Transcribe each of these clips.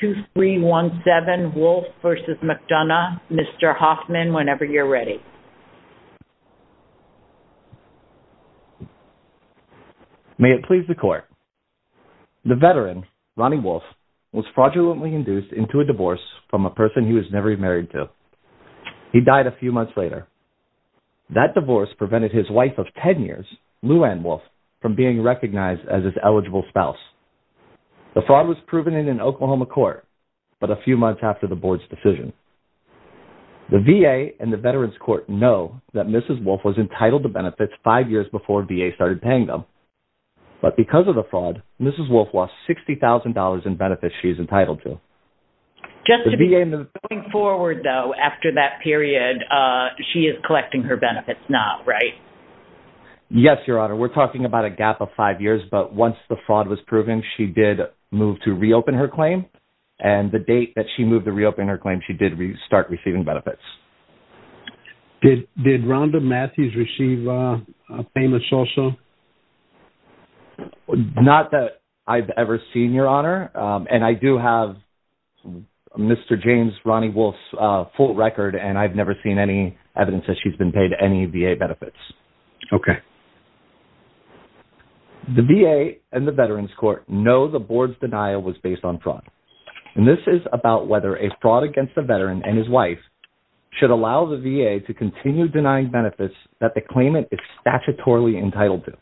2317 Wolfe v. McDonough, Mr. Hoffman, whenever you're ready. May it please the court. The veteran, Ronnie Wolfe, was fraudulently induced into a divorce from a person he was never married to. He died a few months later. That divorce prevented his wife of 10 years, Luann Wolfe, from being recognized as his eligible spouse. The fraud was proven in an Oklahoma court, but a few months after the board's decision. The VA and the Veterans Court know that Mrs. Wolfe was entitled to benefits five years before VA started paying them. But because of the fraud, Mrs. Wolfe lost $60,000 in benefits she is entitled to. Going forward, though, after that period, she is collecting her benefits now, right? Yes, Your Honor. We're talking about a gap of five years, but once the fraud was proven, she did move to reopen her claim. And the date that she moved to reopen her claim, she did start receiving benefits. Did Rhonda Matthews receive payments also? Not that I've ever seen, Your Honor. And I do have Mr. James Ronnie Wolfe's full record, and I've never seen any evidence that she's been paid any VA benefits. Okay. The VA and the Veterans Court know the board's denial was based on fraud. And this is about whether a fraud against a veteran and his wife should allow the VA to continue denying benefits that the claimant is statutorily entitled to.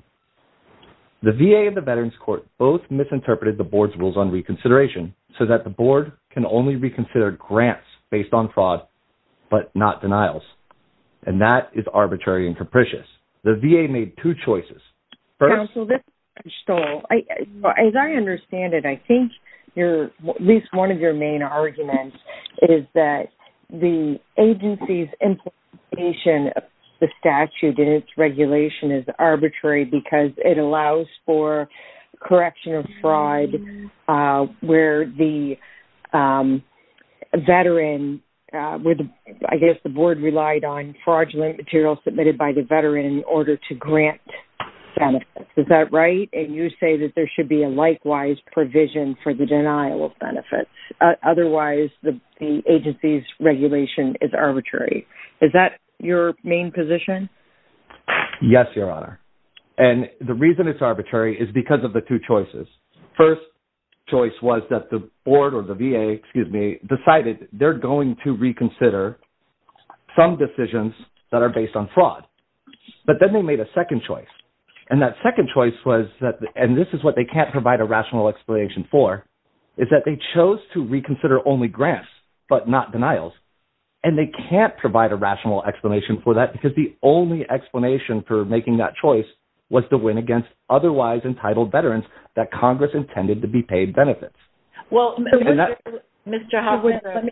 The VA and the Veterans Court both misinterpreted the board's rules on reconsideration so that the board can only reconsider grants based on fraud, but not denials. And that is arbitrary and capricious. The VA made two choices. First- Counsel, this is Michelle. As I understand it, I think at least one of your main arguments is that the agency's implementation of the statute and its regulation is arbitrary because it allows for correction of fraud where the veteran, where I guess the board relied on fraudulent material submitted by the veteran in order to grant benefits. Is that right? And you say that there should be a likewise provision for the denial of benefits. Otherwise the agency's regulation is arbitrary. Is that your main position? Yes, Your Honor. And the reason it's arbitrary is because of the two choices. First choice was that the board or the VA, excuse me, decided they're going to reconsider some decisions that are based on fraud. But then they made a second choice. And that second choice was that, and this is what they can't provide a rational explanation for, is that they chose to reconsider only grants, but not denials. And they can't provide a rational explanation for that because the only explanation for that is that the Congress intended to be paid benefits. Well, Mr. Huffman, let me...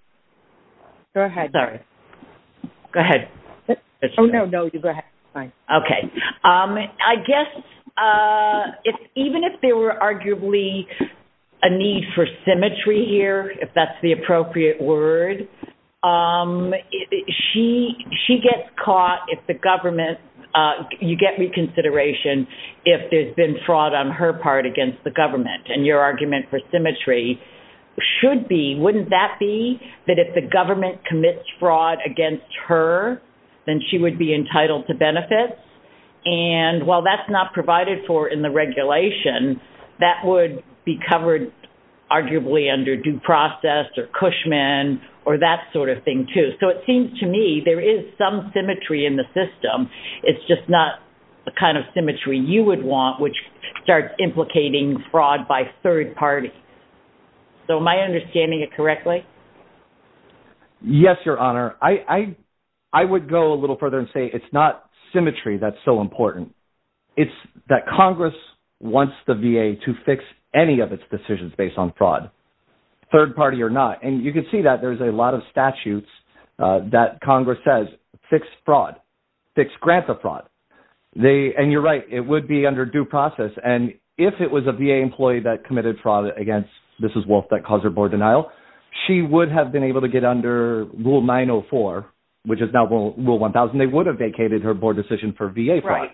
Go ahead. Sorry. Go ahead. Oh, no, no, you go ahead. It's fine. Okay. I guess even if there were arguably a need for symmetry here, if that's the appropriate word, she gets caught if the government, you get reconsideration if there's been fraud on her part against the government. And your argument for symmetry should be, wouldn't that be that if the government commits fraud against her, then she would be entitled to benefits? And while that's not provided for in the regulation, that would be covered arguably under due process or Cushman or that sort of thing too. So it seems to me there is some symmetry in the system. It's just not the kind of symmetry you would want, which starts implicating fraud by third party. So am I understanding it correctly? Yes, Your Honor. I would go a little further and say it's not symmetry that's so important. It's that Congress wants the VA to fix any of its decisions based on fraud, third party or not. And you can see that there's a lot of statutes that Congress says, fix fraud, fix grant fraud. And you're right. It would be under due process. And if it was a VA employee that committed fraud against Mrs. Wolf that caused her board denial, she would have been able to get under Rule 904, which is now Rule 1000. They would have vacated her board decision for VA fraud.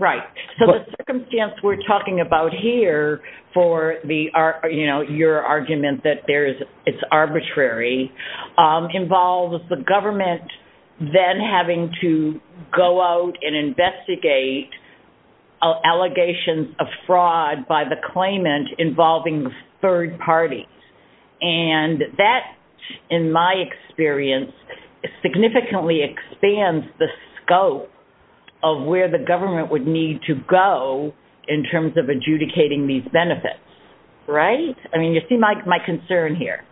Right. So the circumstance we're talking about here for the, you know, your argument that there's it's arbitrary involves the government then having to go out and investigate allegations of fraud by the claimant involving third parties. And that, in my experience, significantly expands the scope of where the government would need to go in terms of adjudicating these benefits. Right? I mean, you see my concern here.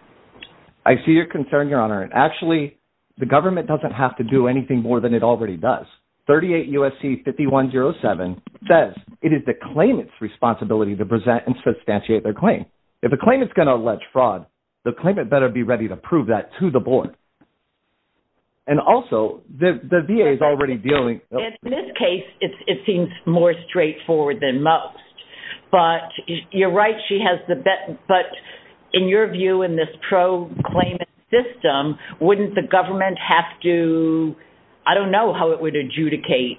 I see your concern, Your Honor. And actually, the government doesn't have to do anything more than it already does. 38 U.S.C. 5107 says it is the claimant's responsibility to present and substantiate their claim. If the claimant's going to allege fraud, the claimant better be ready to prove that to the board. And also, the VA is already dealing- In this case, it seems more straightforward than most. But you're right, she has the- But in your view, in this pro-claimant system, wouldn't the government have to- I don't know how it would adjudicate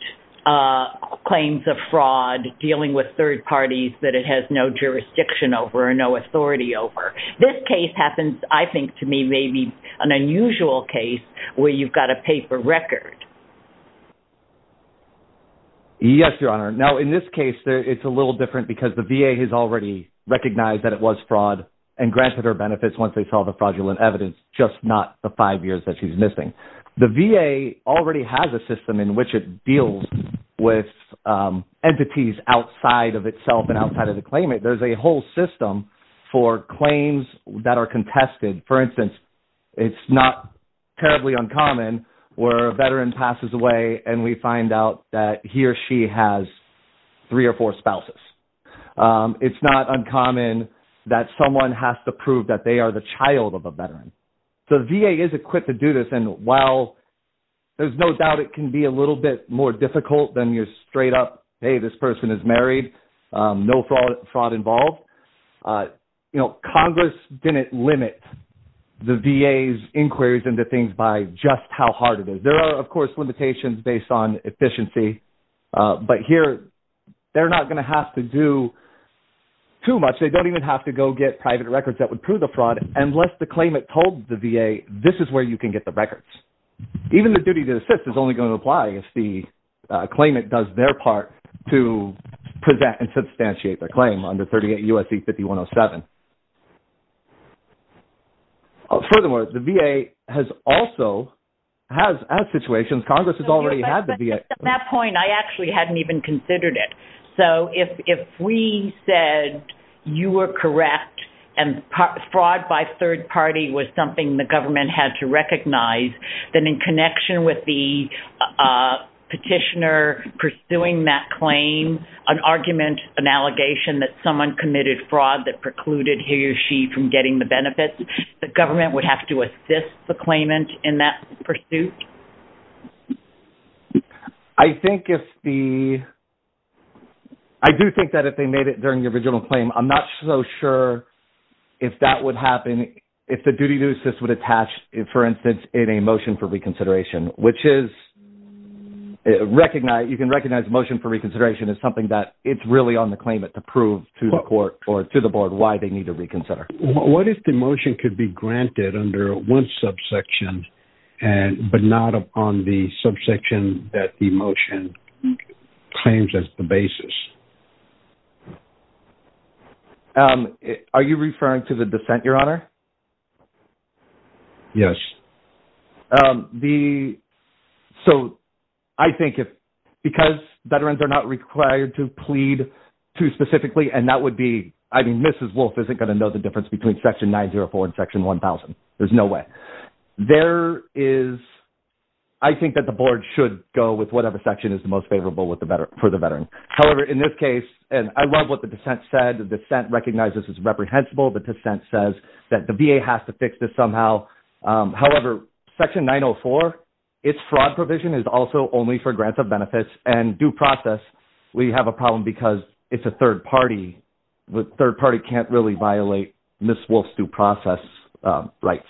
claims of fraud dealing with third parties that it has no jurisdiction over or no authority over. This case happens, I think, to me, maybe an unusual case where you've got a paper record. Yes, Your Honor. Now, in this case, it's a little different because the VA has already recognized that it was fraud and granted her benefits once they saw the fraudulent evidence, just not the five years that she's missing. The VA already has a system in which it deals with entities outside of itself and outside of the claimant. There's a whole system for claims that are contested. For instance, it's not terribly uncommon where a veteran passes away and we find out that he or she has three or four spouses. It's not uncommon that someone has to prove that they are the child of a veteran. So, the VA is equipped to do this and while there's no doubt it can be a little bit more difficult than your straight up, hey, this person is married, no fraud involved, Congress didn't limit the VA's inquiries into things by just how hard it is. There are, of course, limitations based on efficiency, but here they're not going to have to do too much. They don't even have to go get private records that would prove the fraud unless the claimant told the VA, this is where you can get the records. Even the duty to assist is only going to apply if the claimant does their part to present and substantiate their claim under 38 U.S.C. 5107. Furthermore, the VA has also, has, as situations, Congress has already had the VA... At that point, I actually hadn't even considered it. So, if we said you were correct and fraud by third party was something the government had to recognize, then in connection with the petitioner pursuing that claim, an argument, an allegation that someone committed fraud that precluded he or she from getting the benefits, the government would have to assist the claimant in that pursuit? I think if the, I do think that if they made it during the original claim, I'm not so sure if that would happen, if the duty to assist would attach, for instance, in a motion for reconsideration, which is recognize, you can recognize motion for reconsideration as something that it's really on the claimant to prove to the court or to the board why they need to reconsider. What if the motion could be granted under one subsection, but not on the subsection that the motion claims as the basis? Are you referring to the dissent, Your Honor? Yes. So, I think if, because veterans are not required to plead too specifically, and that would be, I mean, Mrs. Wolf isn't going to know the difference between section 904 and section 1000. There's no way. There is, I think that the board should go with whatever section is the most favorable for the veteran. However, in this case, and I love what the dissent said, the dissent recognizes it's reprehensible. The dissent says that the VA has to fix this somehow. However, section 904, it's fraud provision is also only for grants of benefits and due process. We have a problem because it's a third party. The third party can't really violate Mrs. Wolf's due process rights.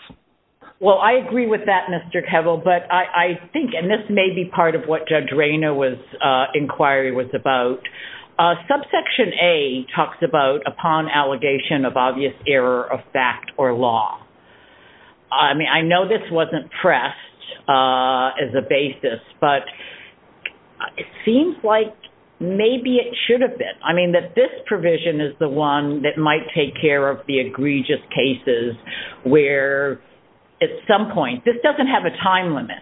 Well, I agree with that, Mr. Kevil, but I think, and this may be part of what Judge I know this wasn't pressed as a basis, but it seems like maybe it should have been. I mean, that this provision is the one that might take care of the egregious cases where at some point, this doesn't have a time limit.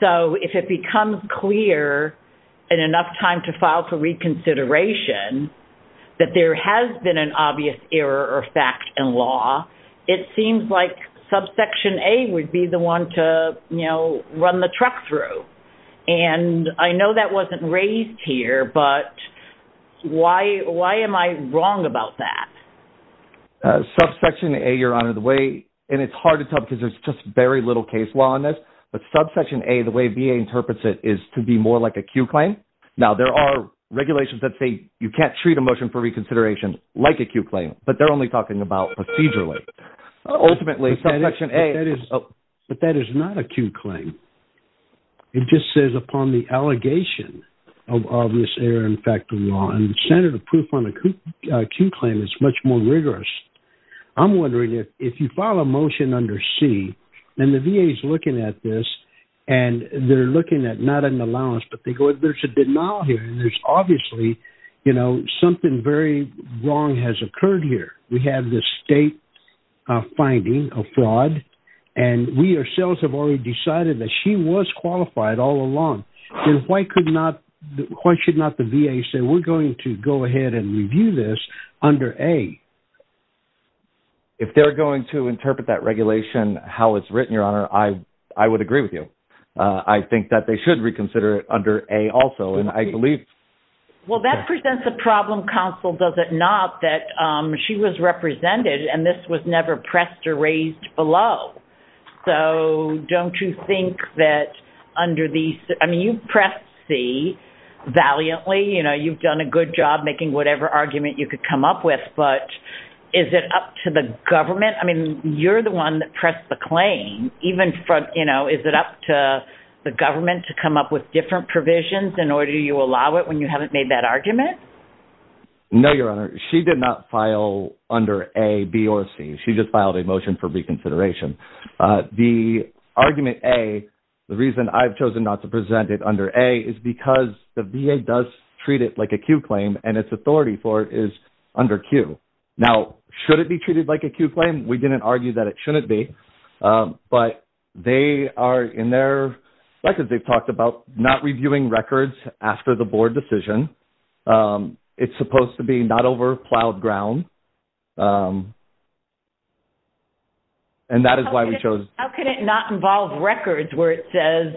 So, if it becomes clear and enough time to file for reconsideration, that there has been an obvious error or fact in law, it seems like subsection A would be the one to, you know, run the truck through. And I know that wasn't raised here, but why am I wrong about that? Subsection A, Your Honor, the way, and it's hard to tell because there's just very little case law on this, but subsection A, the way VA interprets it is to be more like a Q claim. Now, there are regulations that say you can't treat a motion for reconsideration like a Q claim, but they're only talking about procedurally. Ultimately, subsection A- But that is not a Q claim. It just says upon the allegation of this error in fact in law, and the standard of proof on a Q claim is much more rigorous. I'm wondering if you file a motion under C, and the VA is looking at this, and they're looking at not an allowance, but they go, there's a denial here, and there's obviously, you know, something very wrong has occurred here. We have this state finding of fraud, and we ourselves have already decided that she was qualified all along. Then why could not, why should not the VA say, we're going to go ahead and review this under A? If they're going to interpret that regulation, how it's written, Your Honor, I would agree with I think that they should reconsider it under A also, and I believe- Well, that presents a problem, counsel, does it not, that she was represented, and this was never pressed or raised below. So, don't you think that under these, I mean, you pressed C valiantly, you know, you've done a good job making whatever argument you could come up with, but is it up to the government? I mean, you're the one that pressed the claim, even from, you know, is it up to the government to come up with different provisions in order you allow it when you haven't made that argument? No, Your Honor, she did not file under A, B, or C. She just filed a motion for reconsideration. The argument A, the reason I've chosen not to present it under A is because the VA does treat it like a Q claim, and its authority for it is under Q. Now, should it be treated like a Q claim? We didn't argue that it shouldn't be, but they are, in their records, they've talked about not reviewing records after the board decision. It's supposed to be not over plowed ground, and that is why we chose- How can it not involve records where it says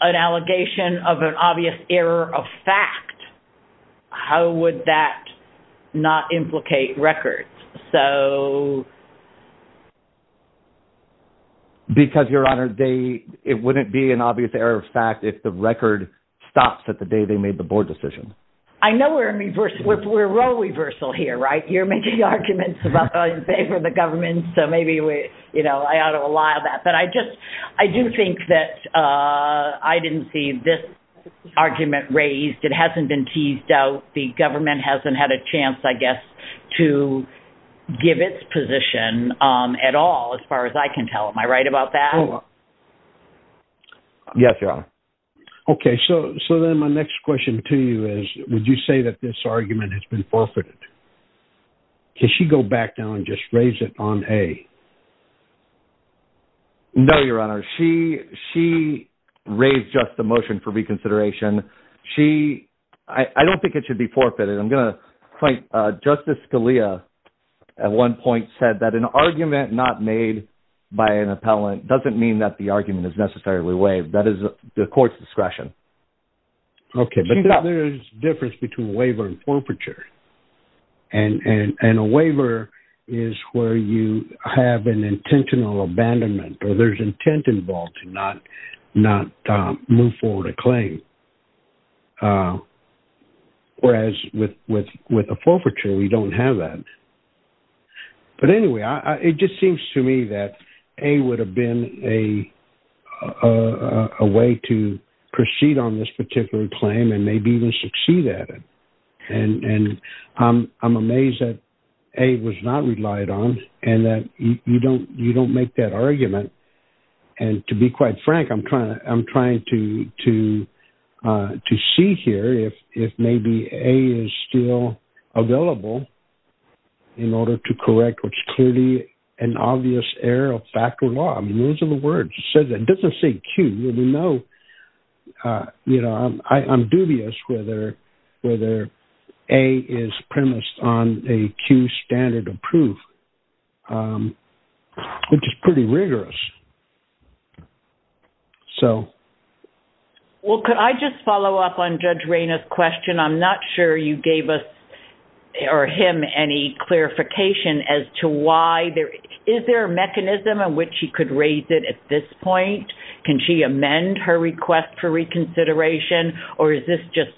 an allegation of an obvious error of fact? How would that not implicate records? Because, Your Honor, it wouldn't be an obvious error of fact if the record stops at the day they made the board decision. I know we're in reversal, we're role reversal here, right? You're making arguments about how you favor the government, so maybe, you know, I ought to allow that, but I do think that I didn't see this argument raised. It hasn't been teased out. The government hasn't had a chance, I guess, to give its position at all, as far as I can tell. Am I right about that? Yes, Your Honor. Okay, so then my next question to you is, would you say that this argument has been forfeited? Can she go back down and just raise it on A? No, Your Honor. She raised just the motion for reconsideration. She, I don't think it should be forfeited. I'm going to point, Justice Scalia at one point said that an argument not made by an appellant doesn't mean that the argument is necessarily waived. That is the court's discretion. Okay, but there's a difference between a waiver and forfeiture. And a waiver is where you have an intentional abandonment, or there's intent involved to not move forward a claim. Whereas with a forfeiture, we don't have that. But anyway, it just seems to me that A would have been a way to proceed on this particular claim and maybe even succeed at it. And I'm amazed that A was not relied on and that you don't make that argument. And to be quite frank, I'm trying to see here if maybe A is still available in order to correct what's clearly an obvious error of fact or law. I mean, those are the words. It doesn't say Q. I'm dubious whether A is premised on a Q standard of proof, which is pretty rigorous. Well, could I just follow up on Judge Reyna's question? I'm not sure you gave us or him any clarification as to why there... Is there a mechanism in which he could raise it at this point? Can she amend her request for reconsideration? Or is this just,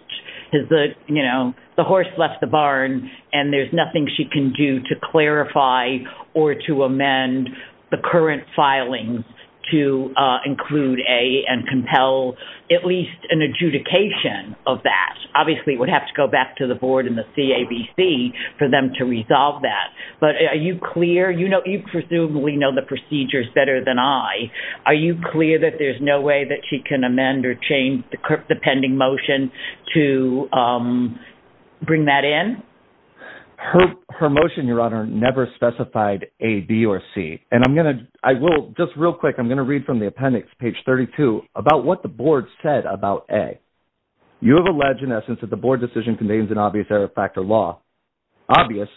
you know, the horse left the barn and there's nothing she can do to clarify or to amend the current filings to include A and compel at least an adjudication of that? Obviously, it would have to go back to the board and the CABC for them to resolve that. But are you clear? You know, you presumably know the procedures better than I. Are you clear that there's no way that she can amend or change the pending motion to bring that in? Her motion, Your Honor, never specified A, B, or C. And I'm going to... I will... Just real quick, I'm going to read from the appendix, page 32, about what the board said about A. You have alleged, in essence, that the board decision contains an obvious error factor law. Obvious,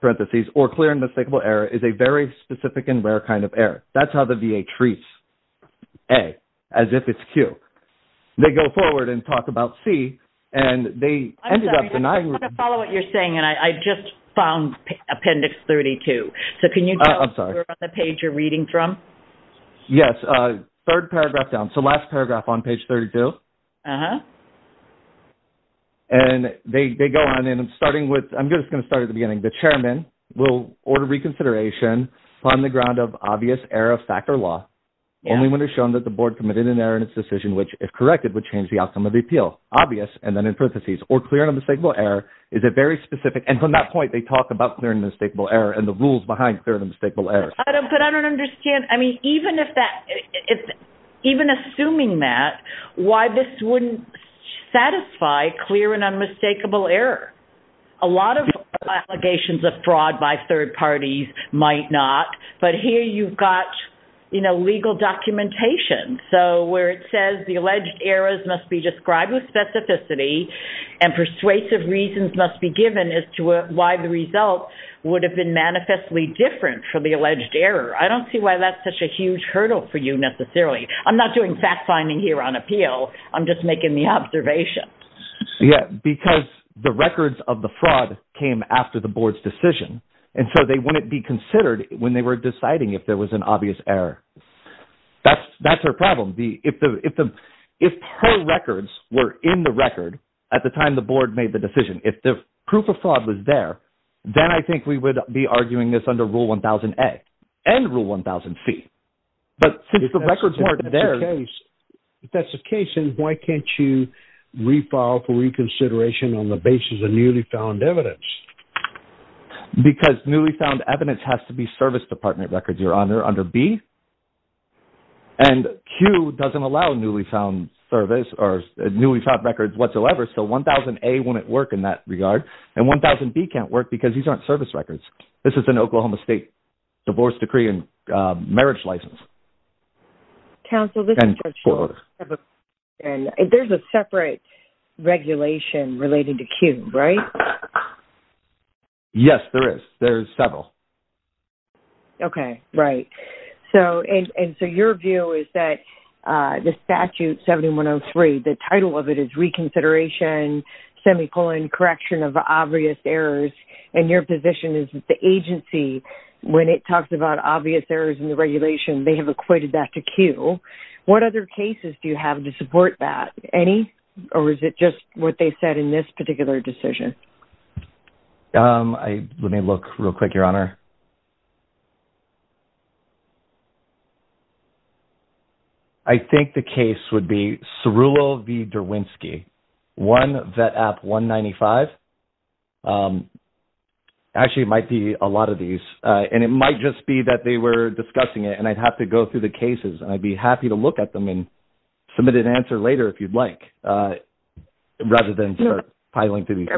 parentheses, or clear and mistakable error is a very specific and rare kind of error. That's how the VA treats A, as if it's Q. They go forward and talk about C, and they ended up denying... I want to follow what you're saying, and I just found appendix 32. So can you tell us where on the page you're reading from? Yes, third paragraph down. So last paragraph on page 32. And they go on, and I'm starting with... I'm just going to start at the beginning. The chairman will order reconsideration on the ground of obvious error factor law, only when it's shown that the board committed an error in its decision, which, if corrected, would change the outcome of the appeal. Obvious, and then in parentheses, or clear and unmistakable error is a very specific... And from that point, they talk about clear and unmistakable error and the rules behind clear and unmistakable error. But I don't understand. I mean, even assuming that, why this wouldn't satisfy clear and unmistakable error? A lot of allegations of fraud by third parties might not, but here you've got legal documentation. So where it says the alleged errors must be described with specificity and persuasive reasons must be given as to why the result would have been manifestly different for the alleged error. I don't see why that's such a huge hurdle for you necessarily. I'm not doing fact-finding here on appeal. I'm just making the observation. Yeah, because the records of the fraud came after the board's decision, and so they wouldn't be considered when they were deciding if there was an obvious error. That's their problem. If her records were in the record at the time the board made the decision, if the proof of fraud was there, then I think we would be arguing this under Rule 1000A and Rule 1000C. But since the records weren't there... If that's the case, then why can't you refile for reconsideration on the basis of newly found evidence? Because newly found evidence has to be service department records, Your Honor, under B. And Q doesn't allow newly found service or newly found records whatsoever, so 1000A wouldn't work in that regard. And 1000B can't work because these aren't service records. This is an Oklahoma State divorce decree and marriage license. Counsel, this is just short of a question. There's a separate regulation related to Q, right? Yes, there is. There's several. Okay, right. So, and so your view is that the statute 7103, the title of it is reconsideration, semicolon, correction of obvious errors, and your position is that the agency, when it talks about obvious errors in the regulation, they have equated that to Q. What other cases do you have to support that? Any? Or is it just what they said in this particular decision? Let me look real quick, Your Honor. So, I think the case would be Cerullo v. Derwinski, one, VET app 195. Actually, it might be a lot of these, and it might just be that they were discussing it, and I'd have to go through the cases. And I'd be happy to look at them and submit an answer later if you'd like, rather than start piling through these.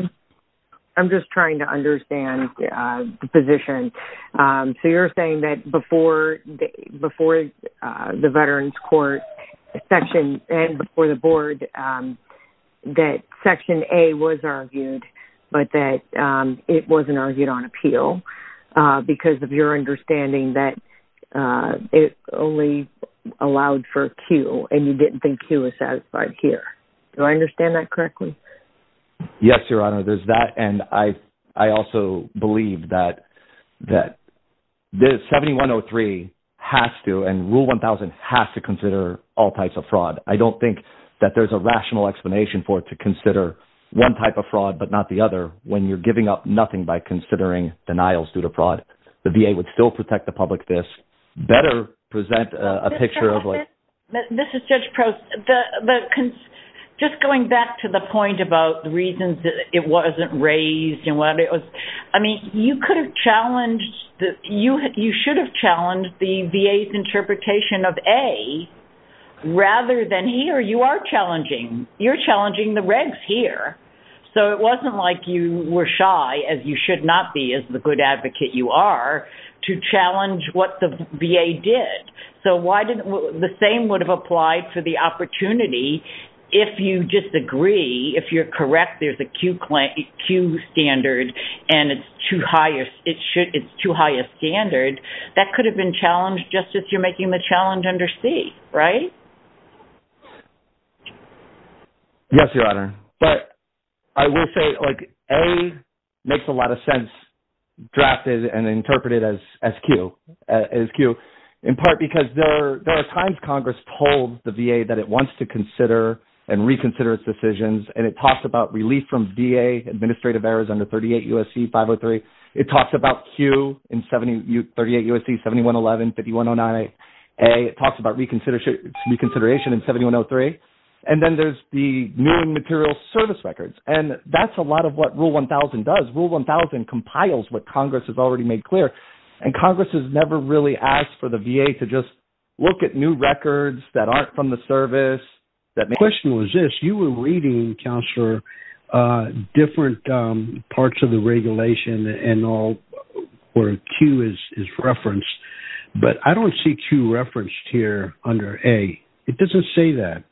I'm just trying to understand the position. So, you're saying that before the Veterans Court section, and before the board, that section A was argued, but that it wasn't argued on appeal, because of your understanding that it only allowed for Q, and you didn't think Q was satisfied here. Do I understand that correctly? Yes, Your Honor, there's that. I also believe that 7103 has to, and Rule 1000 has to consider all types of fraud. I don't think that there's a rational explanation for it to consider one type of fraud, but not the other, when you're giving up nothing by considering denials due to fraud. The VA would still protect the public. This better present a picture of like... This is Judge Prost. Just going back to the point about the reasons that it wasn't raised, and what it was... I mean, you could have challenged... You should have challenged the VA's interpretation of A, rather than here. You are challenging. You're challenging the regs here. So, it wasn't like you were shy, as you should not be, as the good advocate you are, to challenge what the VA did. So, why didn't... The same would have applied for the opportunity, if you just agree. If you're correct, there's a Q standard, and it's too high a standard. That could have been challenged, just as you're making the challenge under C, right? Yes, Your Honor. But I will say, like, A makes a lot of sense, drafted and interpreted as Q. In part, because there are times Congress told the VA that it wants to consider and reconsider its decisions. And it talks about relief from VA administrative errors under 38 U.S.C. 503. It talks about Q in 38 U.S.C. 7111, 5109A. It talks about reconsideration in 7103. And then there's the new material service records. And that's a lot of what Rule 1000 does. Rule 1000 compiles what Congress has already made clear. And Congress has never really asked for the VA to just look at new records that aren't from the service. The question was this. You were reading, Counselor, different parts of the regulation and all where Q is referenced. But I don't see Q referenced here under A. It doesn't say that.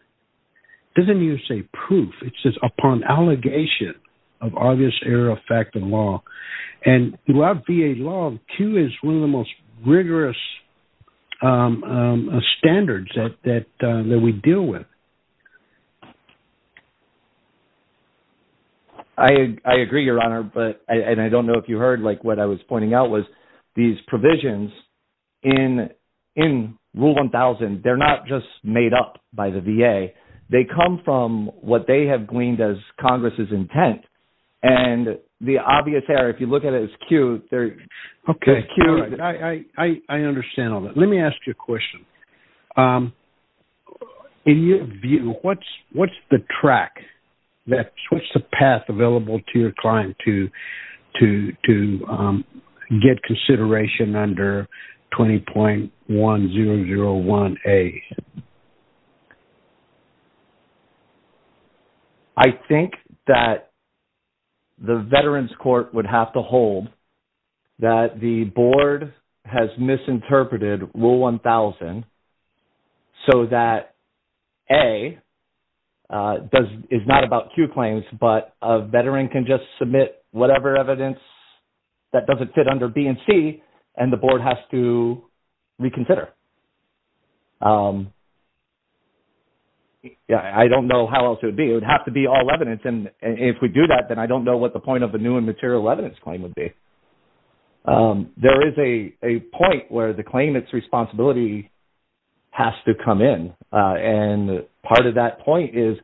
It doesn't even say proof. It says, upon allegation of obvious error of fact and law. And throughout VA law, Q is one of the most rigorous standards that we deal with. I agree, Your Honor. But I don't know if you heard what I was pointing out was these provisions in Rule 1000, they're not just made up by the VA. They come from what they have gleaned as Congress's intent. And the obvious error, if you look at it, is Q. Okay, I understand all that. Let me ask you a question. In your view, what's the track? What's the path available to your client to get consideration under 20.1001A? I think that the Veterans Court would have to hold that the board has misinterpreted Rule 1000 so that A is not about Q claims, but a veteran can just submit whatever evidence that doesn't fit under B and C, and the board has to reconsider. Yeah, I don't know how else it would be. It would have to be all evidence. And if we do that, then I don't know what the point of a new and material evidence claim would be. There is a point where the claimant's responsibility has to come in. And part of that point is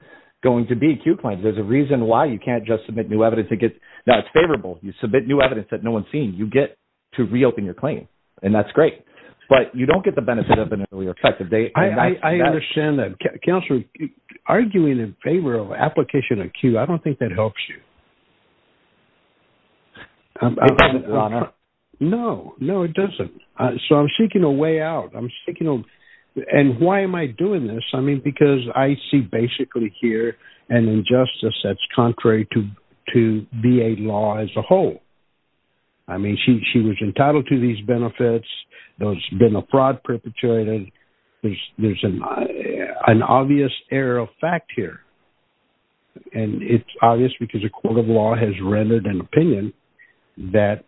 going to be Q claims. There's a reason why you can't just submit new evidence that gets- that's favorable. You submit new evidence that no one's seen, you get to reopen your claim. And that's great. But you don't get the benefit of an earlier effective date. I understand that. Counselor, arguing in favor of application of Q, I don't think that helps you. No, no, it doesn't. So I'm seeking a way out. I'm seeking a- and why am I doing this? I mean, because I see basically here an injustice that's contrary to VA law as a whole. I mean, she was entitled to these benefits. There's been a fraud perpetrator. There's an obvious error of fact here. And it's obvious because a court of law has rendered an opinion that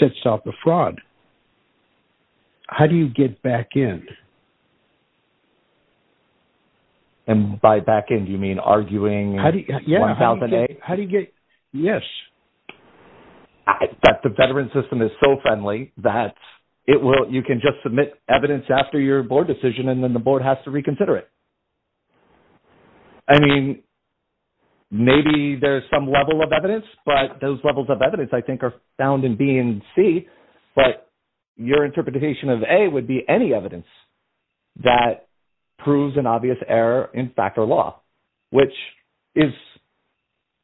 sets off the fraud. How do you get back in? And by back in, do you mean arguing? How do you get- yes. That the veteran system is so friendly that it will- you can just submit evidence after your board decision and then the board has to reconsider it. I mean, maybe there's some level of evidence, but those levels of evidence I think are found in B and C. But your interpretation of A would be any evidence that proves an obvious error in fact or law, which is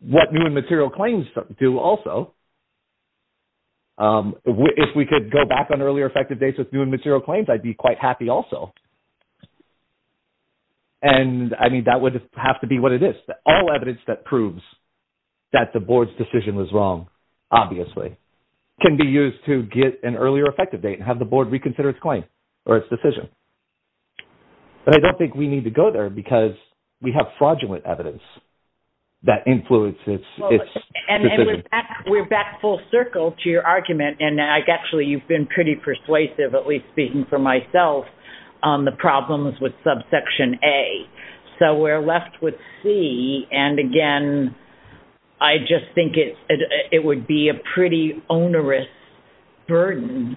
what new and material claims do also. If we could go back on earlier effective dates with new and material claims, I'd be quite happy also. And I mean, that would have to be what it is. All evidence that proves that the board's decision was wrong, obviously, can be used to get an earlier effective date and have the board reconsider its claim or its decision. But I don't think we need to go there because we have fraudulent evidence that influences- Well, and we're back full circle to your argument. And actually, you've been pretty persuasive, at least speaking for myself, on the problems with subsection A. So we're left with C. And again, I just think it would be a pretty onerous burden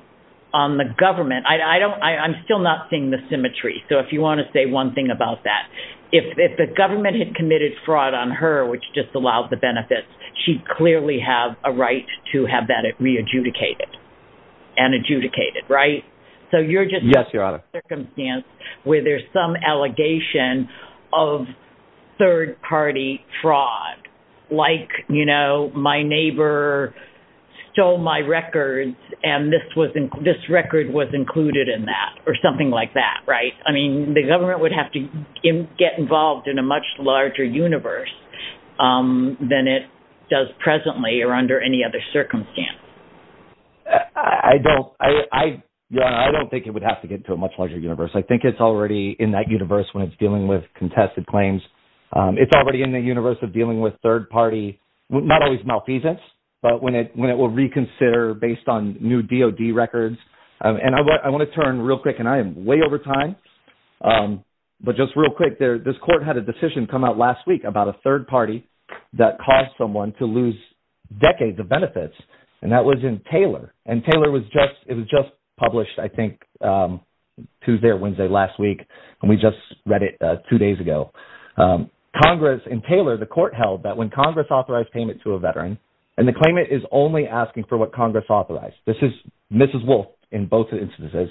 on the government. I'm still not seeing the symmetry. So if you want to say one thing about that, if the government had committed fraud on her, which disallowed the benefits, she'd clearly have a right to have that re-adjudicated and adjudicated, right? So you're just- Yes, Your Honor. ...circumstance where there's some allegation of third party fraud, like, you know, my neighbor stole my records, and this record was included in that, or something like that, right? I mean, the government would have to get involved in a much larger universe than it does presently or under any other circumstance. I don't. Your Honor, I don't think it would have to get to a much larger universe. I think it's already in that universe when it's dealing with contested claims. It's already in the malfeasance, but when it will reconsider based on new DOD records, and I want to turn real quick, and I am way over time, but just real quick, this court had a decision come out last week about a third party that caused someone to lose decades of benefits, and that was in Taylor. And Taylor was just- it was just published, I think, Tuesday or Wednesday last week, and we just read it two and the claimant is only asking for what Congress authorized. This is Mrs. Wolf in both instances,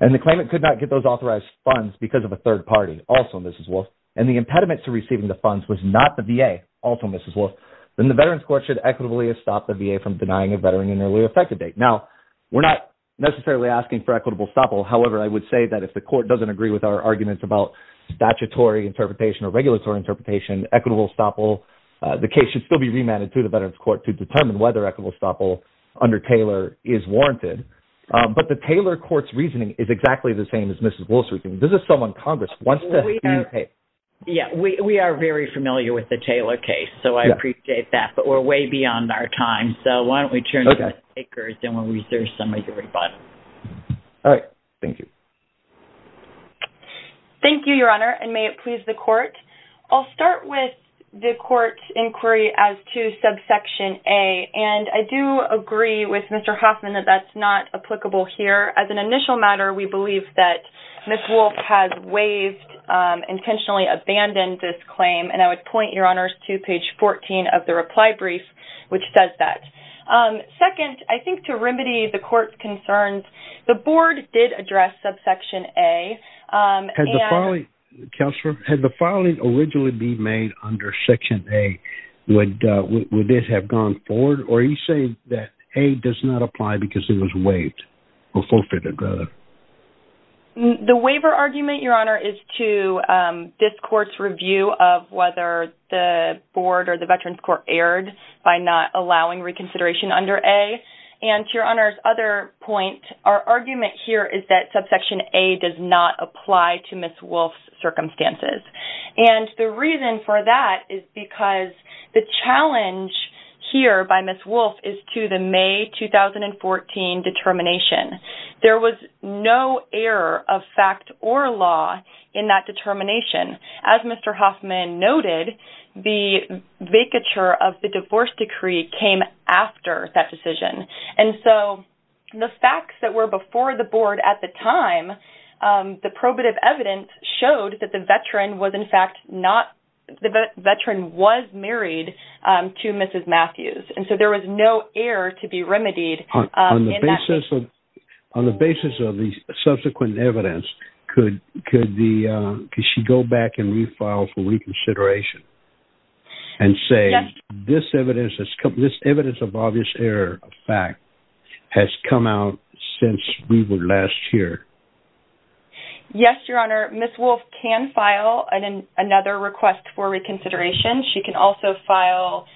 and the claimant could not get those authorized funds because of a third party, also Mrs. Wolf, and the impediment to receiving the funds was not the VA, also Mrs. Wolf, then the Veterans Court should equitably stop the VA from denying a veteran an early effective date. Now, we're not necessarily asking for equitable stoppable. However, I would say that if the court doesn't agree with our arguments about statutory interpretation or regulatory interpretation, equitable stoppable, the case should still be remanded to the Veterans Court to determine whether equitable stoppable under Taylor is warranted. But the Taylor court's reasoning is exactly the same as Mrs. Wolf's reasoning. This is someone Congress wants to- Well, we are, yeah, we are very familiar with the Taylor case, so I appreciate that, but we're way beyond our time, so why don't we turn to the speakers and we'll research some of your rebuttals. All right. Thank you. Thank you, Your Honor, and may it please the court. I'll start with the court's inquiry as to subsection A, and I do agree with Mr. Hoffman that that's not applicable here. As an initial matter, we believe that Mrs. Wolf has waived, intentionally abandoned this claim, and I would point, Your Honor, to page 14 of the reply brief, which says that. Second, I think to remedy the subsection A, and- Counselor, had the filing originally be made under section A, would this have gone forward, or are you saying that A does not apply because it was waived, or forfeited, rather? The waiver argument, Your Honor, is to this court's review of whether the board or the Veterans Court erred by not allowing reconsideration under A, and to Your Honor's other point, our argument here is that subsection A does not apply to Mrs. Wolf's circumstances, and the reason for that is because the challenge here by Mrs. Wolf is to the May 2014 determination. There was no error of fact or law in that determination. As Mr. Hoffman noted, the facts that were before the board at the time, the probative evidence showed that the veteran was married to Mrs. Matthews, and so there was no error to be remedied in that case. On the basis of the subsequent evidence, could she go back and refile for reconsideration and say this evidence of obvious error of fact has come out since we were last here? Yes, Your Honor. Mrs. Wolf can file another request for reconsideration. She can also file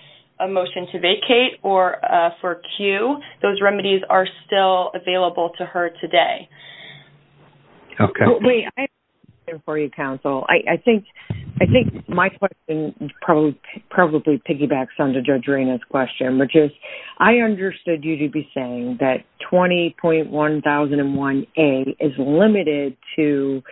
a motion to vacate or for a cue. Those remedies are still available to her today. Okay. Wait, I have a question for you, counsel. I think my question probably piggybacks on Judge Arena's question, which is I understood you to be saying that 20.1001A is limited to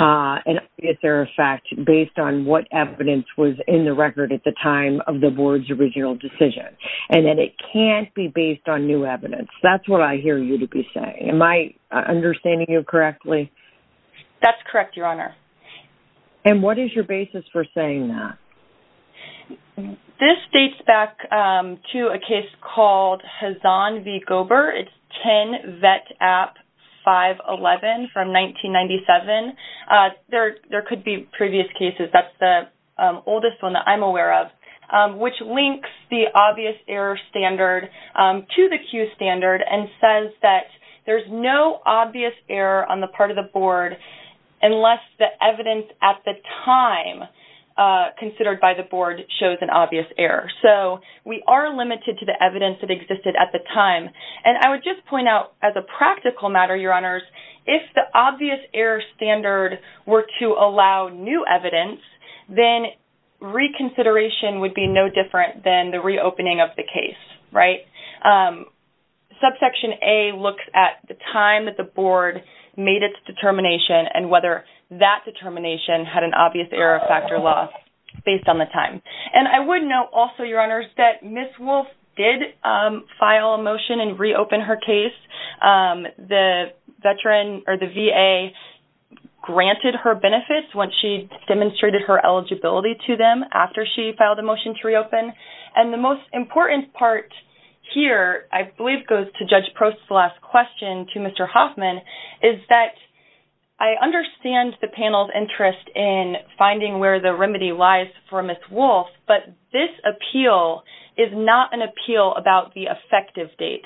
an obvious error of fact based on what evidence was in the record at the time of the board's original decision, and that it can't be based on new evidence. Am I understanding you correctly? That's correct, Your Honor. And what is your basis for saying that? This dates back to a case called Hazan v. Gober. It's 10 Vet App 511 from 1997. There could be previous cases. That's the oldest one that I'm aware of, which links the obvious error standard to the cue standard and says that there's no obvious error on the part of the board unless the evidence at the time considered by the board shows an obvious error. So we are limited to the evidence that existed at the time. And I would just point out as a practical matter, Your Honors, if the obvious error standard were to allow new evidence, then reconsideration would be no different than the look at the time that the board made its determination and whether that determination had an obvious error of factor loss based on the time. And I would note also, Your Honors, that Ms. Wolfe did file a motion and reopen her case. The VA granted her benefits when she demonstrated her eligibility to them after she filed a motion to reopen. And the most important part here, I believe, goes to Judge Prost's last question to Mr. Hoffman is that I understand the panel's interest in finding where the remedy lies for Ms. Wolfe, but this appeal is not an appeal about the effective date.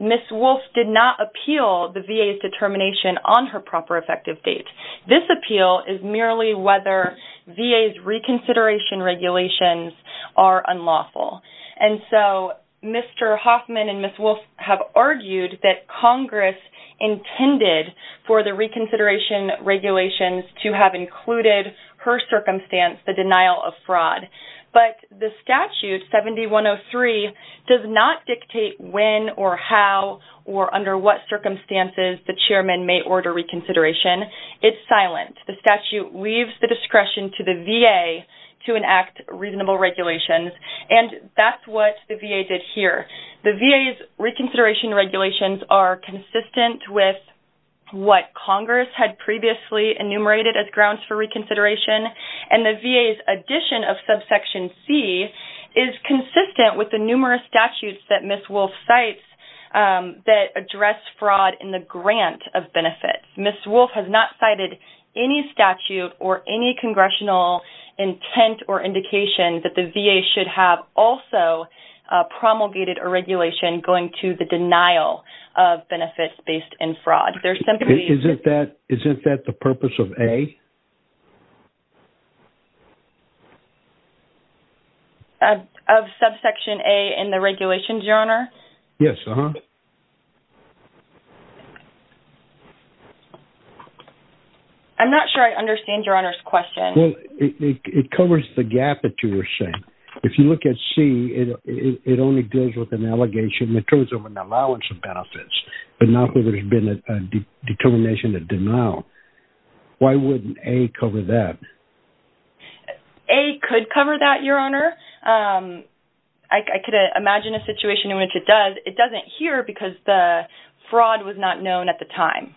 Ms. Wolfe did not appeal the VA's determination on her proper effective date. This appeal is merely whether VA's reconsideration regulations are unlawful. And so Mr. Hoffman and Ms. Wolfe have argued that Congress intended for the reconsideration regulations to have included her circumstance, the denial of fraud. But the statute 7103 does not dictate when or how or under what circumstances the chairman may order reconsideration. It's silent. The statute leaves the discretion to the VA to enact reasonable regulations. And that's what the VA did here. The VA's reconsideration regulations are consistent with what Congress had previously enumerated as grounds for reconsideration. And the VA's addition of subsection C is consistent with the numerous statutes that Ms. Wolfe cites that address fraud in the grant of benefits. Ms. Wolfe has not cited any statute or any congressional intent or indication that the VA should have also promulgated a regulation going to the denial of benefits based in fraud. There's simply... Isn't that the purpose of A? Of subsection A in the regulations, Your Honor? Yes. Uh-huh. I'm not sure I understand Your Honor's question. Well, it covers the gap that you were saying. If you look at C, it only deals with an allegation in terms of an allowance of benefits, but not whether there's been a determination of denial. Why wouldn't A cover that? A could cover that, Your Honor. I could imagine a situation in which it doesn't here because the fraud was not known at the time.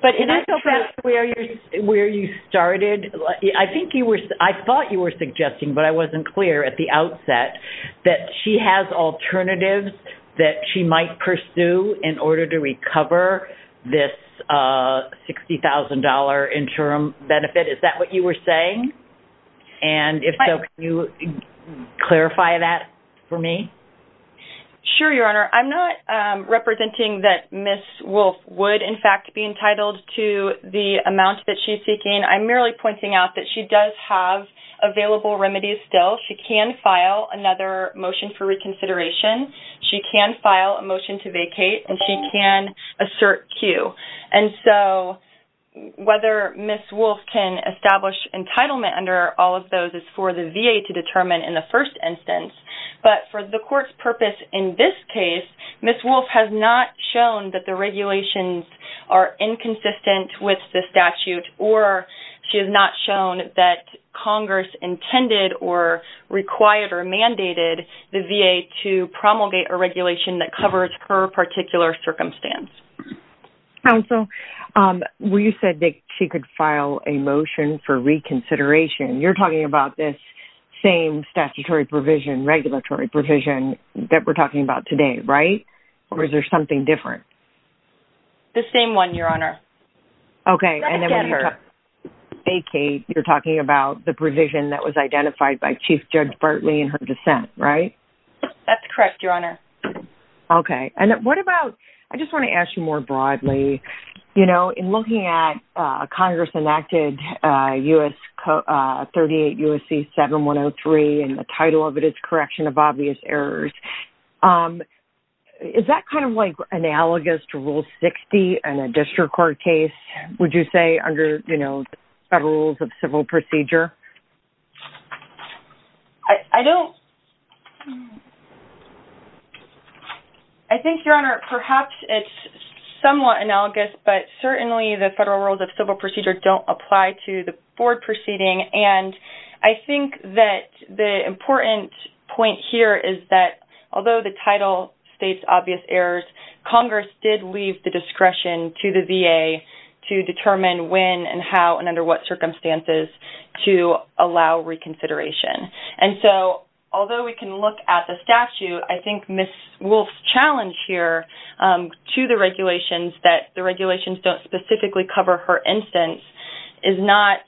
But it is true- I'm not sure where you started. I thought you were suggesting, but I wasn't clear at the outset, that she has alternatives that she might pursue in order to recover this $60,000 interim benefit. Is that what you were saying? And if so, can you clarify that for me? Sure, Your Honor. I'm not representing that Ms. Wolfe would, in fact, be entitled to the amount that she's seeking. I'm merely pointing out that she does have available remedies still. She can file another motion for reconsideration. She can file a motion to vacate, and she can assert Q. And so whether Ms. Wolfe can establish entitlement under all of those is for the VA to decide. But for the court's purpose in this case, Ms. Wolfe has not shown that the regulations are inconsistent with the statute, or she has not shown that Congress intended or required or mandated the VA to promulgate a regulation that covers her particular circumstance. Counsel, you said that she could file a motion for reconsideration. You're talking about this statutory provision, regulatory provision that we're talking about today, right? Or is there something different? The same one, Your Honor. Okay. And then when you say vacate, you're talking about the provision that was identified by Chief Judge Bartley in her dissent, right? That's correct, Your Honor. Okay. And what about, I just want to ask you more broadly, you know, in looking at Congress-enacted U.S. 38 U.S.C. 7103, and the title of it is Correction of Obvious Errors, is that kind of like analogous to Rule 60 in a district court case, would you say, under, you know, federal rules of civil procedure? I don't... I think, Your Honor, perhaps it's somewhat analogous, but certainly the federal rules of civil procedure don't apply to the board proceeding. And I think that the important point here is that although the title states obvious errors, Congress did leave the discretion to the allow reconsideration. And so, although we can look at the statute, I think Ms. Wolf's challenge here to the regulations that the regulations don't specifically cover her instance is not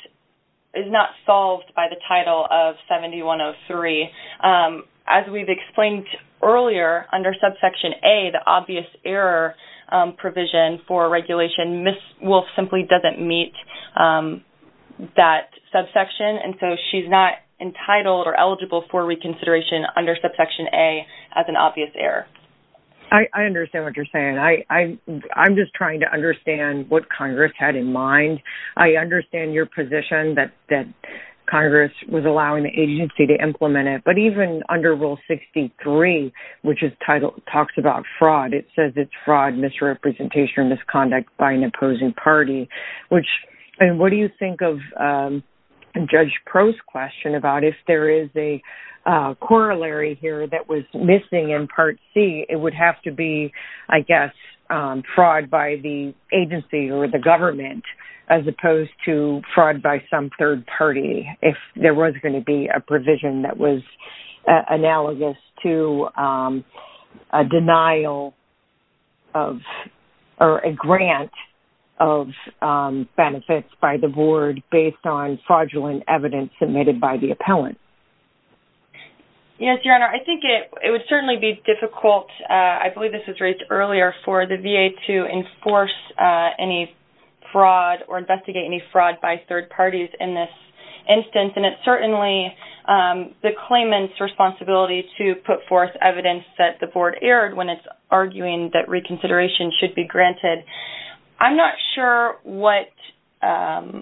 solved by the title of 7103. As we've explained earlier, under Subsection A, the obvious error provision for regulation, Ms. Wolf simply doesn't meet that subsection. And so, she's not entitled or eligible for reconsideration under Subsection A as an obvious error. I understand what you're saying. I'm just trying to understand what Congress had in mind. I understand your position that Congress was allowing the agency to implement it, even under Rule 63, which talks about fraud. It says it's fraud, misrepresentation, or misconduct by an opposing party. And what do you think of Judge Pro's question about if there is a corollary here that was missing in Part C, it would have to be, I guess, fraud by the agency or the government as opposed to fraud by some third party if there was going to be a provision that was analogous to a denial of or a grant of benefits by the board based on fraudulent evidence submitted by the appellant? Yes, Your Honor. I think it would certainly be difficult, I believe this was raised earlier, for the VA to enforce any fraud or investigate any fraud by third parties in this instance. And it's certainly the claimant's responsibility to put forth evidence that the board erred when it's arguing that reconsideration should be granted. I'm not sure what, I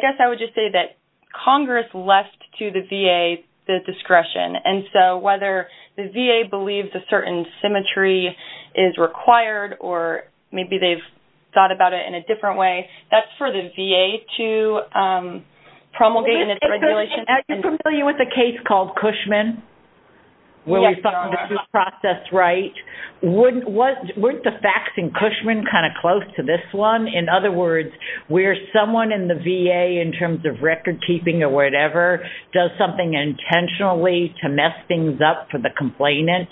guess I would just say that Congress left to the VA the discretion. And so, whether the VA believes a certain symmetry is required or maybe they've thought about it in different ways, that's for the VA to promulgate in its regulation. Are you familiar with a case called Cushman where we found the due process right? Weren't the facts in Cushman kind of close to this one? In other words, where someone in the VA in terms of record keeping or whatever does something intentionally to mess things up for the complainant,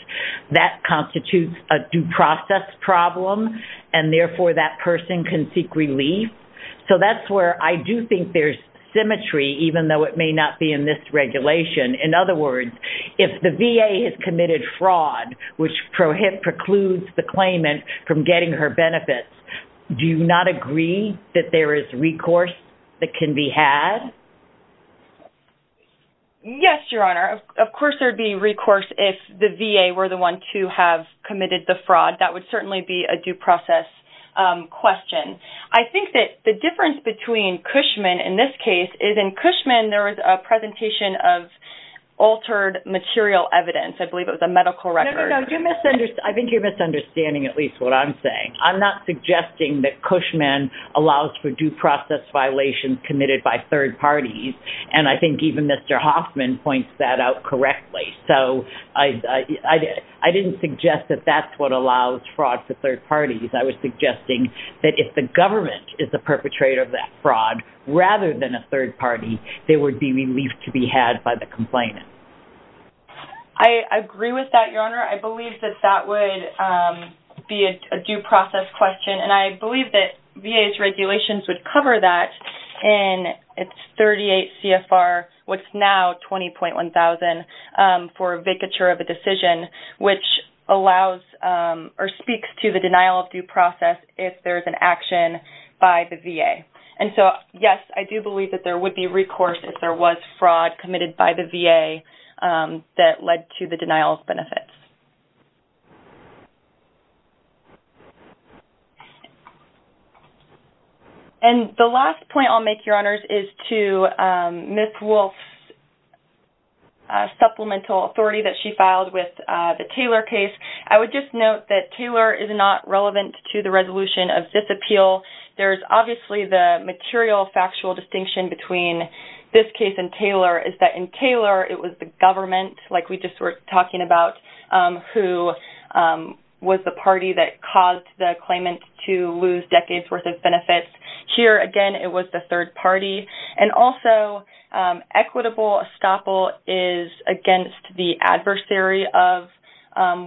that constitutes a due process problem and therefore that person can seek relief. So that's where I do think there's symmetry even though it may not be in this regulation. In other words, if the VA has committed fraud, which precludes the claimant from getting her benefits, do you not agree that there is recourse that can be had? Yes, Your Honor. Of course, there'd be recourse if the VA were the one to have committed the fraud. That would certainly be a due process question. I think that the difference between Cushman in this case is in Cushman there was a presentation of altered material evidence. I believe it was a medical record. No, no, no. I think you're misunderstanding at least what I'm saying. I'm not suggesting that Cushman allows for due process violations committed by third parties. I think even Mr. Hoffman points that out correctly. I didn't suggest that that's what allows fraud to third parties. I was suggesting that if the government is the perpetrator of that fraud rather than a third party, there would be relief to be had by the complainant. I agree with that, Your Honor. I believe that that would be a due process question. I believe that VA's regulations would cover that in its 38 CFR, what's now 20.1,000 for a vacature of a decision, which allows or speaks to the denial of due process if there's an action by the VA. Yes, I do believe that there would be recourse if there was denial of benefits. The last point I'll make, Your Honors, is to Ms. Wolf's supplemental authority that she filed with the Taylor case. I would just note that Taylor is not relevant to the resolution of this appeal. There's obviously the material factual distinction between this case and Taylor is that in Taylor, it was the government, like we just were talking about, who was the party that caused the claimant to lose decades' worth of benefits. Here, again, it was the third party. Also, equitable estoppel is against the adversary of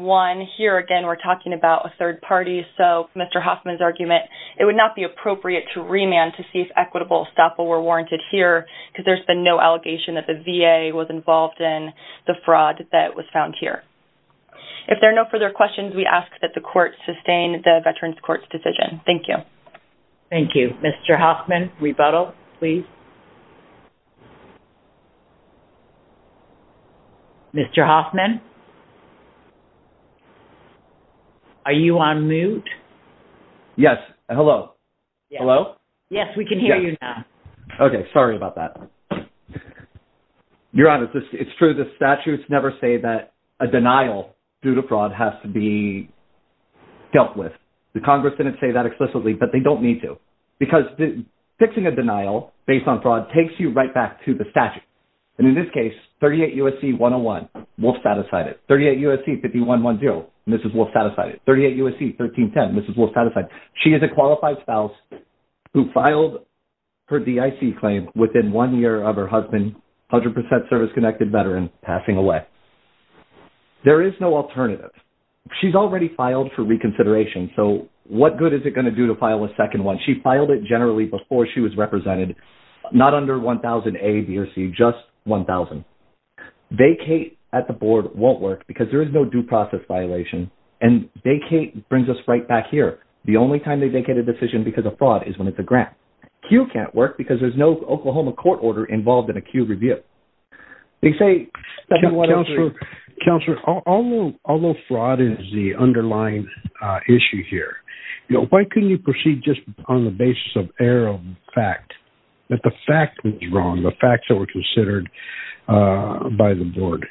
one. Here, again, we're talking about a third party. Mr. Hoffman's argument, it would not be appropriate to remand to see if equitable estoppel were warranted here because there's been no allegation that the VA was involved in the fraud that was found here. If there are no further questions, we ask that the court sustain the Veterans Court's decision. Thank you. Thank you. Mr. Hoffman, rebuttal, please. Mr. Hoffman, are you on mute? Yes. Hello? Hello? Yes, we can hear you now. Okay. Sorry about that. Your Honors, it's true. The statutes never say that a denial due to fraud has to be dealt with. The Congress didn't say that explicitly, but they don't need to because fixing a denial based on fraud takes you right back to the statute. And in this case, 38 U.S.C. 101, Wolf satisfied it. 38 U.S.C. 5110, Mrs. Wolf satisfied it. 38 U.S.C. 1310, Mrs. Wolf satisfied it. She is a qualified spouse who filed her DIC claim within one year of her husband, 100% service-connected veteran, passing away. There is no alternative. She's already filed for reconsideration. So what good is it going to do to file a second one? She filed it generally before she was represented, not under 1000A, B, or C, just 1000. Vacate at the board won't work because there is no due process violation. And vacate brings us right back here. The only time they vacate a decision because of fraud is when it's a grant. Cue can't work because there's no Oklahoma court order involved in a cue review. They say that whatever... Counselor, although fraud is the underlying issue here, why couldn't you proceed just on the basis of error of fact, that the fact was wrong, the facts that were considered by the board?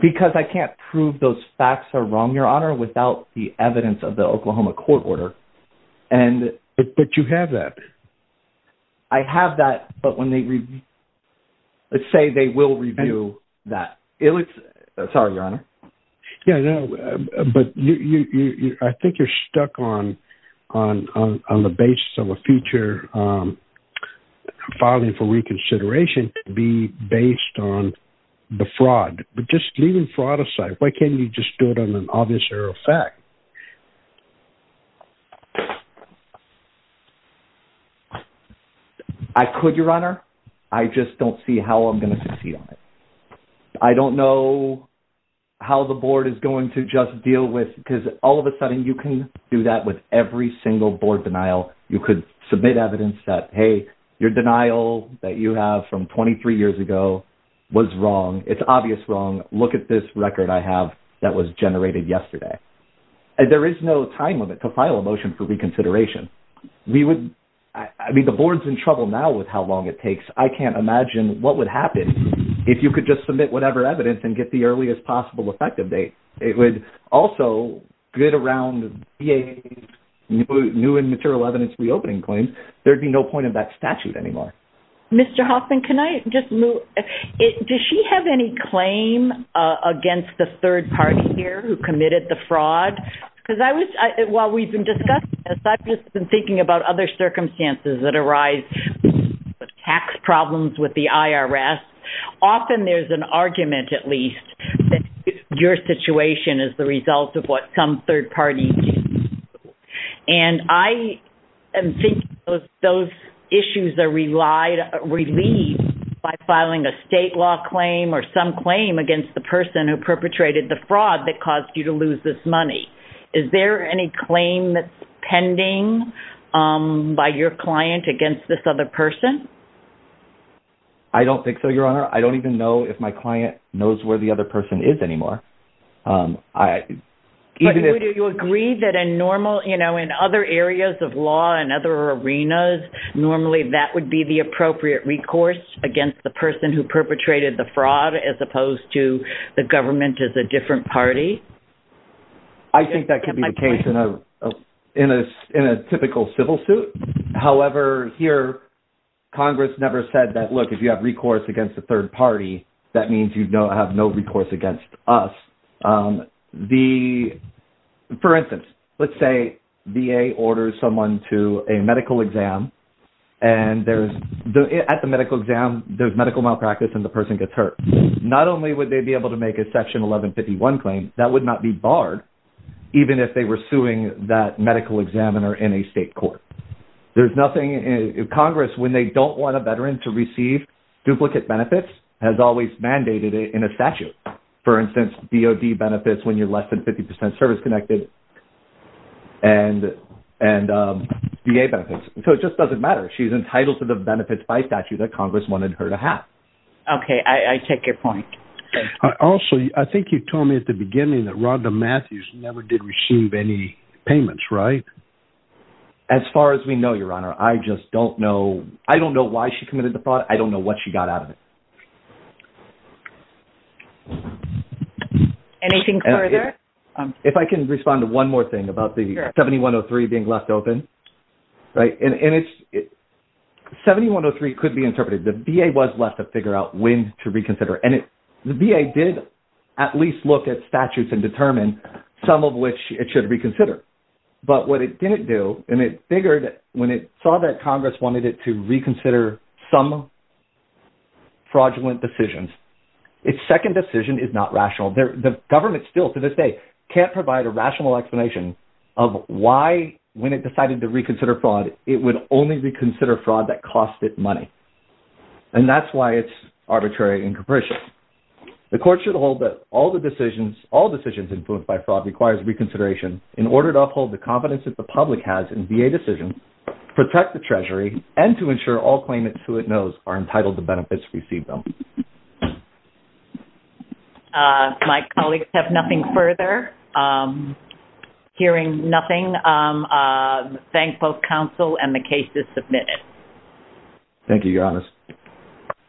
Because I can't prove those facts are wrong, Your Honor, without the evidence of the Oklahoma court order. But you have that. I have that, but when they... Let's say they will review that. Sorry, Your Honor. Yeah, but I think you're stuck on the basis of a future filing for reconsideration to be based on the fraud. But just leaving fraud aside, why can't you just do it on an obvious error of fact? I could, Your Honor. I just don't see how I'm going to succeed on it. I don't know how the board is going to just deal with... Because all of a sudden you can do that with every single board denial. You could submit evidence that, hey, your denial that you have from 23 years ago was wrong. It's obvious wrong. Look at this record I have that was generated yesterday. And there is no time limit to file a motion for reconsideration. We would... I mean, the board's in trouble now with how long it takes. I can't imagine what would happen if you could just submit whatever evidence and get the earliest possible effective date. It would also get around new and material evidence reopening claims. There'd be no point in that statute anymore. Mr. Hoffman, can I just move... Does she have any claim against the third party here who committed the fraud? Because I was... While we've been discussing this, I've just been thinking about other circumstances that arise with tax problems, with the IRS. Often there's an argument at least that your situation is the result of what some third party did. And I am thinking those issues are relieved by filing a state law claim or some claim against the person who perpetrated the fraud that caused you to lose this money. Is there any claim that's pending by your client against this other person? I don't think so, Your Honor. I don't even know if my client knows where the other person is anymore. Do you agree that in other areas of law and other arenas, normally that would be the appropriate recourse against the person who perpetrated the fraud as opposed to the government as a case? I think that could be the case in a typical civil suit. However, here, Congress never said that, look, if you have recourse against the third party, that means you have no recourse against us. For instance, let's say VA orders someone to a medical exam. And at the medical exam, there's medical malpractice and the person gets hurt. Not only would they be able to make a Section 1151 claim, that would not be barred, even if they were suing that medical examiner in a state court. Congress, when they don't want a veteran to receive duplicate benefits, has always mandated it in a statute. For instance, DOD benefits when you're less than 50% service-connected and VA benefits. So it just doesn't matter. She's entitled to the benefits by statute that Congress wanted her to have. Okay, I take your point. Also, I think you told me at the beginning that Rhonda Matthews never did receive any payments, right? As far as we know, Your Honor, I just don't know. I don't know why she committed the fraud. I don't know what she got out of it. Anything further? If I can respond to one more thing about the 7103 being left open, right? 7103 could be interpreted. The VA was left to figure out when to reconsider. And the VA did at least look at statutes and determine some of which it should reconsider. But what it didn't do, and it figured when it saw that Congress wanted it to reconsider some fraudulent decisions, its second decision is not rational. The government still, to this day, can't provide a rational explanation of why, when it decided to reconsider fraud, it would only reconsider fraud that cost it money. And that's why it's arbitrary and capricious. The court should hold that all decisions influenced by fraud requires reconsideration in order to uphold the confidence that the public has in VA decisions, protect the Treasury, and to ensure all claimants who it knows are entitled to benefits received. Thank you. My colleagues have nothing further. Hearing nothing, I thank both counsel and the case is submitted. Thank you, Janice.